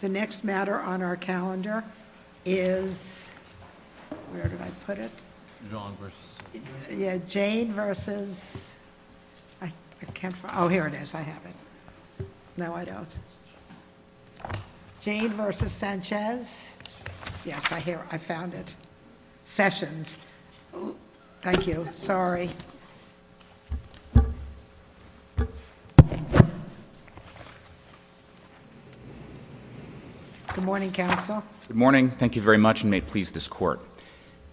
The next matter on our calendar is, where did I put it? Jaen v. Sessions Oh, here it is. I have it. No, I don't. Jaen v. Sessions Yes, I found it. Sessions. Thank you. Sorry. Good morning, Counsel. Good morning. Thank you very much, and may it please this Court.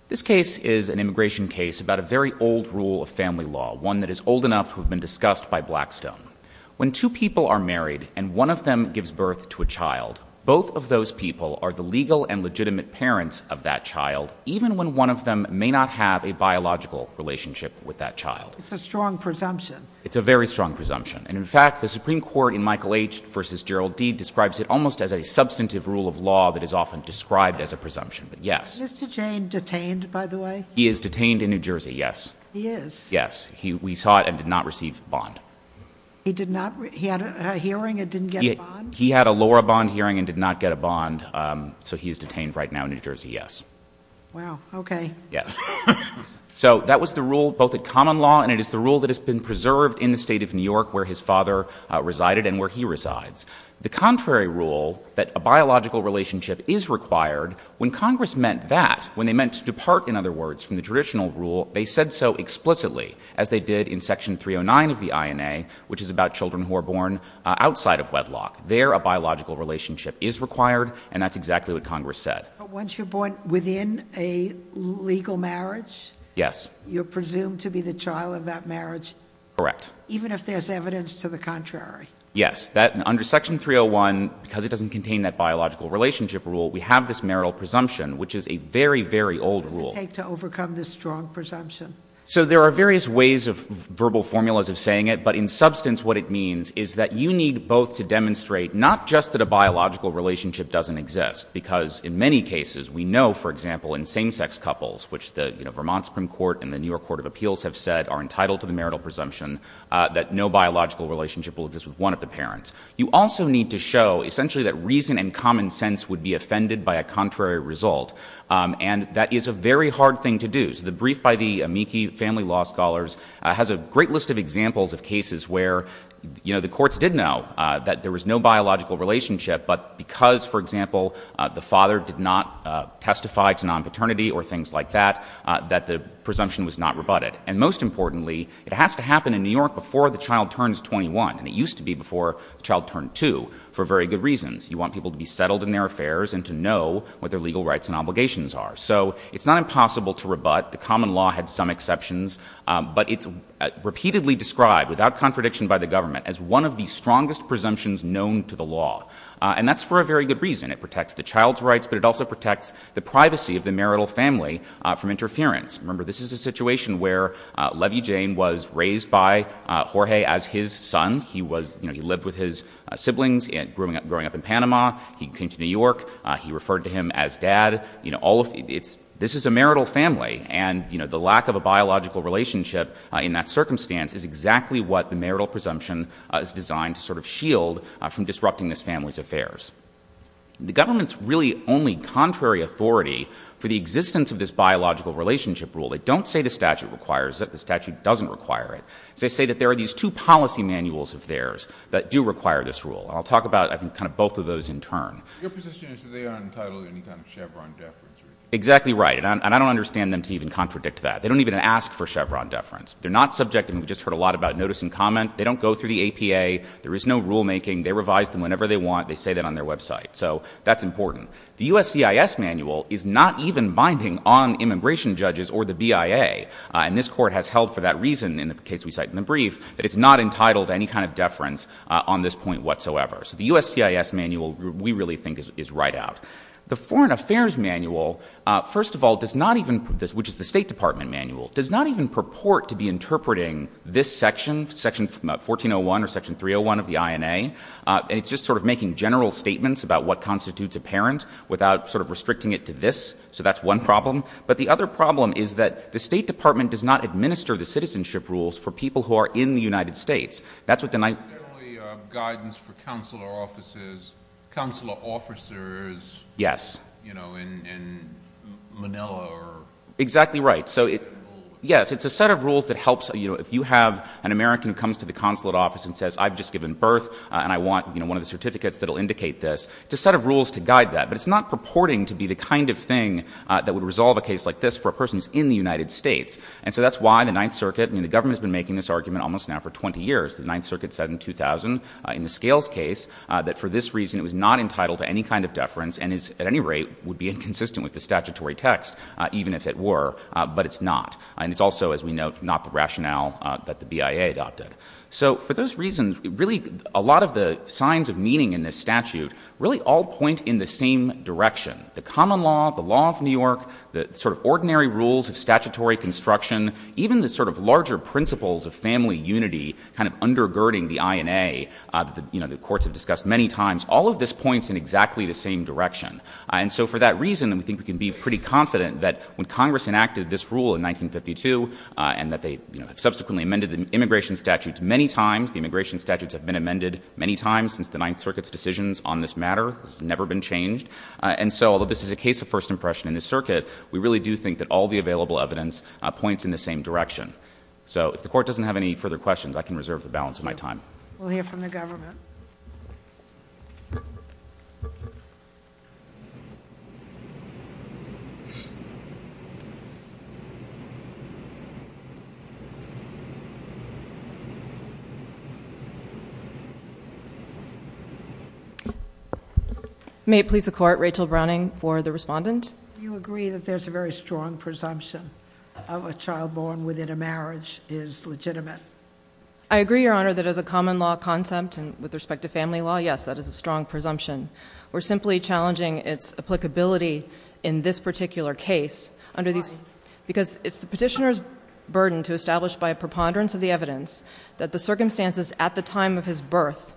This case is an immigration case about a very old rule of family law, one that is old enough to have been discussed by Blackstone. When two people are married and one of them gives birth to a child, both of those people are the legal and legitimate parents of that child, even when one of them may not have a biological relationship with that child. It's a strong presumption. It's a very strong presumption. And, in fact, the Supreme Court in Michael H. v. Gerald D. describes it almost as a substantive rule of law that is often described as a presumption. But, yes. Is Mr. Jaen detained, by the way? He is detained in New Jersey, yes. He is? Yes. We saw it and did not receive a bond. He did not? He had a hearing and didn't get a bond? He had a lower bond hearing and did not get a bond, so he is detained right now in New Jersey, yes. Wow. Okay. Yes. So that was the rule, both at common law, and it is the rule that has been preserved in the State of New York where his father resided and where he resides. The contrary rule, that a biological relationship is required, when Congress meant that, when they meant to depart, in other words, from the traditional rule, they said so explicitly, as they did in Section 309 of the INA, which is about children who are born outside of wedlock. There, a biological relationship is required, and that's exactly what Congress said. But once you're born within a legal marriage? Yes. You're presumed to be the child of that marriage? Correct. Even if there's evidence to the contrary? Yes. Under Section 301, because it doesn't contain that biological relationship rule, we have this marital presumption, which is a very, very old rule. What does it take to overcome this strong presumption? So there are various ways of verbal formulas of saying it, but in substance, what it means is that you need both to demonstrate not just that a biological relationship doesn't exist, because in many cases, we know, for example, in same-sex couples, which the Vermont Supreme Court and the New York Court of Appeals have said are entitled to the marital presumption, that no biological relationship will exist with one of the parents. You also need to show, essentially, that reason and common sense would be offended by a contrary result, and that is a very hard thing to do. So the brief by the Amici family law scholars has a great list of examples of cases where, you know, the courts did know that there was no biological relationship, but because, for example, the father did not testify to non-paternity or things like that, that the presumption was not rebutted. And most importantly, it has to happen in New York before the child turns 21, and it used to be before the child turned 2, for very good reasons. You want people to be settled in their affairs and to know what their legal rights and obligations are. So it's not impossible to rebut. The common law had some exceptions, but it's repeatedly described, without contradiction by the government, as one of the strongest presumptions known to the law, and that's for a very good reason. It protects the child's rights, but it also protects the privacy of the marital family from interference. Remember, this is a situation where Levi-Jane was raised by Jorge as his son. He lived with his siblings growing up in Panama. He came to New York. He referred to him as dad. You know, this is a marital family, and the lack of a biological relationship in that circumstance is exactly what the marital presumption is designed to sort of shield from disrupting this family's affairs. The government's really only contrary authority for the existence of this biological relationship rule, they don't say the statute requires it. The statute doesn't require it. They say that there are these two policy manuals of theirs that do require this rule, and I'll talk about, I think, kind of both of those in turn. Your position is that they aren't entitled to any kind of Chevron deference. Exactly right, and I don't understand them to even contradict that. They don't even ask for Chevron deference. They're not subject, and we just heard a lot about notice and comment. They don't go through the APA. There is no rulemaking. They revise them whenever they want. They say that on their website, so that's important. The USCIS manual is not even binding on immigration judges or the BIA, and this Court has held for that reason in the case we cite in the brief that it's not entitled to any kind of deference on this point whatsoever. So the USCIS manual, we really think, is right out. The Foreign Affairs manual, first of all, does not even, which is the State Department manual, does not even purport to be interpreting this section, Section 1401 or Section 301 of the INA, and it's just sort of making general statements about what constitutes a parent without sort of restricting it to this. So that's one problem. But the other problem is that the State Department does not administer the citizenship rules for people who are in the United States. That's what the night— There's only guidance for consular officers. Consular officers, you know, in Manila are— Exactly right. Yes, it's a set of rules that helps, you know, comes to the consulate office and says, I've just given birth and I want, you know, one of the certificates that will indicate this. It's a set of rules to guide that, but it's not purporting to be the kind of thing that would resolve a case like this for a person who's in the United States. And so that's why the Ninth Circuit, I mean, the government has been making this argument almost now for 20 years. The Ninth Circuit said in 2000, in the Scales case, that for this reason it was not entitled to any kind of deference and is, at any rate, would be inconsistent with the statutory text, even if it were, but it's not. And it's also, as we note, not the rationale that the BIA adopted. So for those reasons, really, a lot of the signs of meaning in this statute really all point in the same direction. The common law, the law of New York, the sort of ordinary rules of statutory construction, even the sort of larger principles of family unity kind of undergirding the INA, you know, the courts have discussed many times. All of this points in exactly the same direction. And so for that reason, we think we can be pretty confident that when Congress enacted this rule in 1952 and that they subsequently amended the immigration statutes many times, the immigration statutes have been amended many times since the Ninth Circuit's decisions on this matter has never been changed. And so although this is a case of first impression in the circuit, we really do think that all the available evidence points in the same direction. So if the Court doesn't have any further questions, I can reserve the balance of my time. We'll hear from the government. May it please the Court, Rachel Browning for the respondent. Do you agree that there's a very strong presumption of a child born within a marriage is legitimate? I agree, Your Honor, that as a common law concept and with respect to family law, yes, that is a strong presumption. We're simply challenging its applicability in this particular case. Why? Because it's the petitioner's burden to establish by a preponderance of the evidence that the circumstances at the time of his birth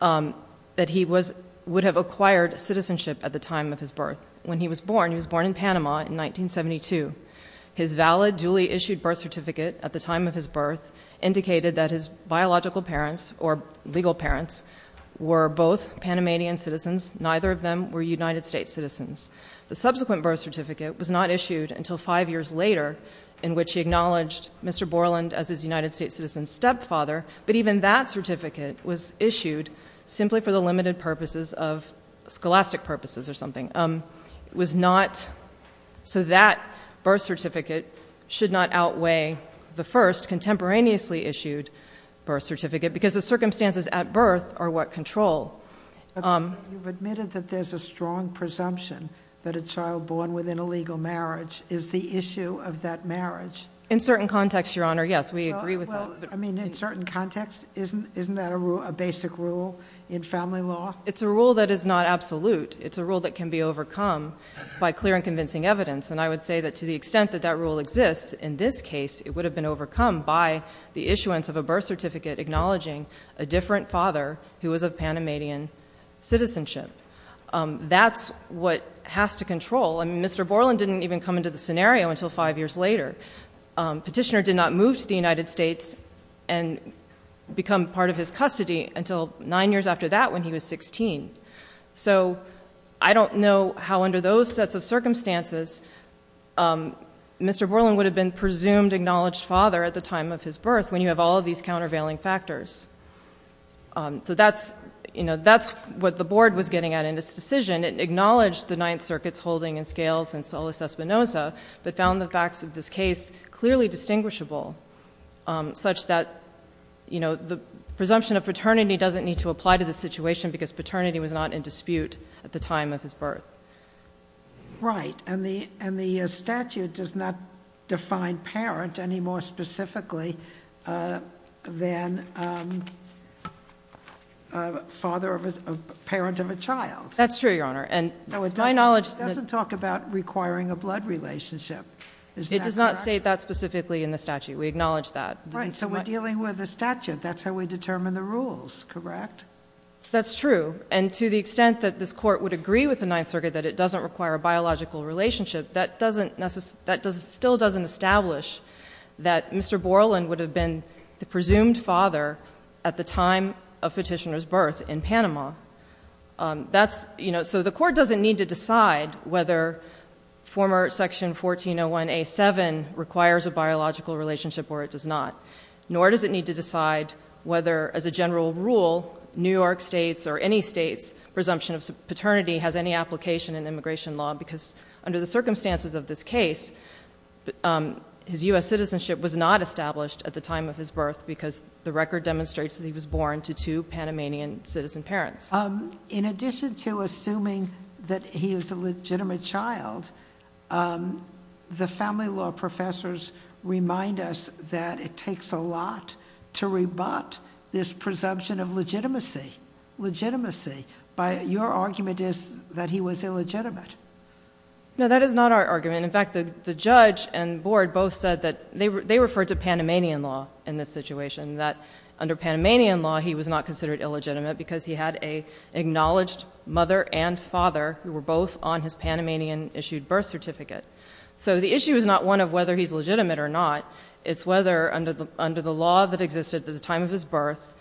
that he would have acquired citizenship at the time of his birth. When he was born, he was born in Panama in 1972. His valid, duly issued birth certificate at the time of his birth indicated that his biological parents or legal parents were both Panamanian citizens. Neither of them were United States citizens. The subsequent birth certificate was not issued until five years later, in which he acknowledged Mr. Borland as his United States citizen's stepfather, but even that certificate was issued simply for the limited purposes of scholastic purposes or something. It was not so that birth certificate should not outweigh the first contemporaneously issued birth certificate because the circumstances at birth are what control. You've admitted that there's a strong presumption that a child born within a legal marriage is the issue of that marriage. In certain contexts, Your Honor, yes, we agree with that. I mean, in certain contexts? Isn't that a basic rule in family law? It's a rule that is not absolute. It's a rule that can be overcome by clear and convincing evidence, and I would say that to the extent that that rule exists in this case, it would have been overcome by the issuance of a birth certificate acknowledging a different father who was of Panamanian citizenship. That's what has to control. I mean, Mr. Borland didn't even come into the scenario until five years later. Petitioner did not move to the United States and become part of his custody until nine years after that when he was 16. So I don't know how under those sets of circumstances Mr. Borland would have been presumed acknowledged father at the time of his birth when you have all of these countervailing factors. So that's what the Board was getting at in its decision. It acknowledged the Ninth Circuit's holding and scales in Solis Espinoza, but found the facts of this case clearly distinguishable such that the presumption of paternity doesn't need to apply to the situation because paternity was not in dispute at the time of his birth. Right. And the statute does not define parent any more specifically than a parent of a child. That's true, Your Honor. It doesn't talk about requiring a blood relationship. It does not state that specifically in the statute. We acknowledge that. Right. So we're dealing with a statute. That's how we determine the rules, correct? That's true. And to the extent that this Court would agree with the Ninth Circuit that it doesn't require a biological relationship, that still doesn't establish that Mr. Borland would have been the presumed father at the time of Petitioner's birth in Panama. So the Court doesn't need to decide whether former Section 1401A.7 requires a biological relationship or it does not, nor does it need to decide whether, as a general rule, New York State's or any state's presumption of paternity has any application in immigration law because under the circumstances of this case, his U.S. citizenship was not established at the time of his birth because the record demonstrates that he was born to two Panamanian citizen parents. In addition to assuming that he was a legitimate child, the family law professors remind us that it takes a lot to rebut this presumption of legitimacy. Your argument is that he was illegitimate. No, that is not our argument. In fact, the judge and board both said that they referred to Panamanian law in this situation, that under Panamanian law he was not considered illegitimate because he had an acknowledged mother and father who were both on his Panamanian-issued birth certificate. So the issue is not one of whether he's legitimate or not, it's whether under the law that existed at the time of his birth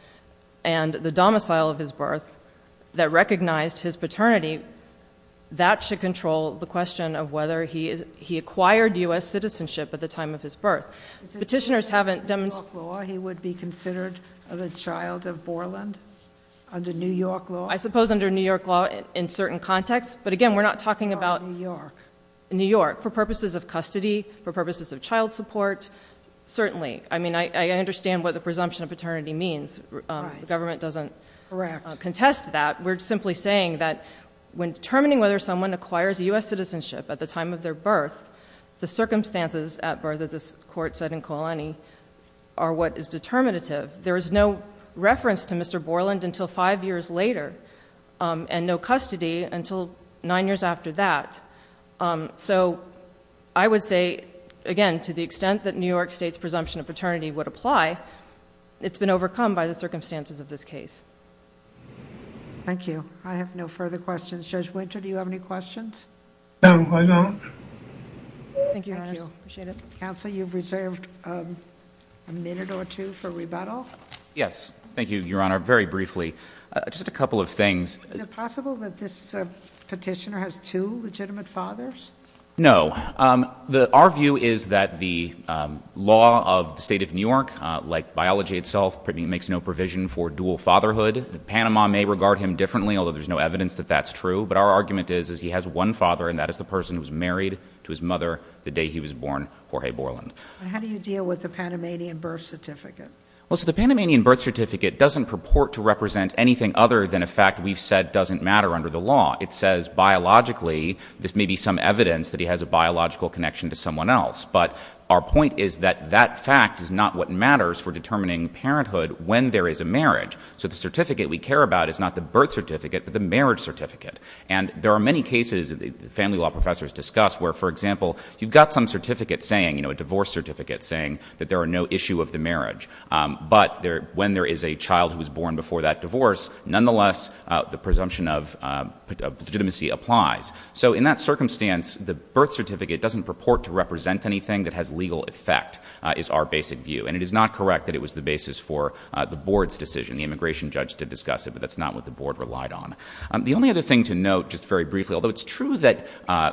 and the domicile of his birth that recognized his paternity, that should control the question of whether he acquired U.S. citizenship at the time of his birth. Petitioners haven't demonstrated... He would be considered the child of Borland under New York law? I suppose under New York law in certain contexts, but again, we're not talking about New York. For purposes of custody, for purposes of child support, certainly. I mean, I understand what the presumption of paternity means. The government doesn't contest that. We're simply saying that when determining whether someone acquires U.S. citizenship at the time of their birth, the circumstances at birth, as this Court said in Koalani, are what is determinative. There is no reference to Mr. Borland until five years later, and no custody until nine years after that. So I would say, again, to the extent that New York State's presumption of paternity would apply, it's been overcome by the circumstances of this case. Thank you. I have no further questions. Judge Winter, do you have any questions? No, I don't. Thank you, Your Honor. Appreciate it. Counsel, you've reserved a minute or two for rebuttal. Yes. Thank you, Your Honor. Very briefly, just a couple of things. Is it possible that this petitioner has two legitimate fathers? No. Our view is that the law of the State of New York, like biology itself, makes no provision for dual fatherhood. Panama may regard him differently, although there's no evidence that that's true. But our argument is, is he has one father, and that is the person who was married to his mother the day he was born, Jorge Borland. How do you deal with the Panamanian birth certificate? Well, so the Panamanian birth certificate doesn't purport to represent anything other than a fact we've said doesn't matter under the law. It says, biologically, there may be some evidence that he has a biological connection to someone else. But our point is that that fact is not what matters for determining parenthood when there is a marriage. So the certificate we care about is not the birth certificate, but the marriage certificate. And there are many cases that family law professors discuss where, for example, you've got some certificate saying, you know, a divorce certificate saying that there are no issue of the marriage. But when there is a child who was born before that divorce, nonetheless, the presumption of legitimacy applies. So in that circumstance, the birth certificate doesn't purport to represent anything that has legal effect, is our basic view. And it is not correct that it was the basis for the board's decision. The immigration judge did discuss it, but that's not what the board relied on. The only other thing to note, just very briefly, although it's true that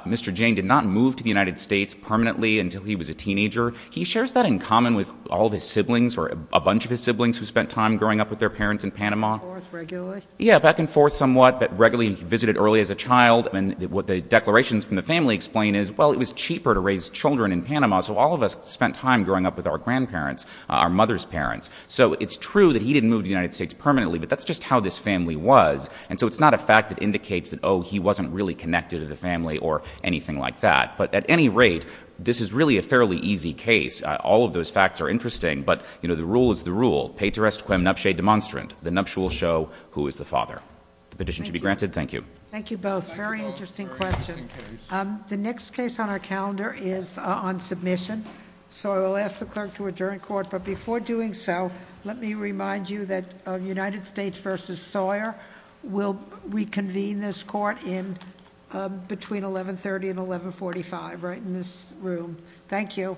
Mr. Jane did not move to the United States permanently until he was a teenager, he shares that in common with all of his siblings or a bunch of his siblings who spent time growing up with their parents in Panama. Back and forth regularly? Yeah, back and forth somewhat, but regularly visited early as a child. And what the declarations from the family explain is, well, it was cheaper to raise children in Panama, so all of us spent time growing up with our grandparents, our mother's parents. So it's true that he didn't move to the United States permanently, but that's just how this family was. And so it's not a fact that indicates that, oh, he wasn't really connected to the family or anything like that. But at any rate, this is really a fairly easy case. All of those facts are interesting. But, you know, the rule is the rule. Pater est quem nuptiae demonstrant. The nuptial show who is the father. The petition should be granted. Thank you. Thank you both. Very interesting question. The next case on our calendar is on submission. So I will ask the clerk to adjourn court. But before doing so, let me remind you that United States v. Sawyer will reconvene this court between 1130 and 1145, right in this room. Thank you.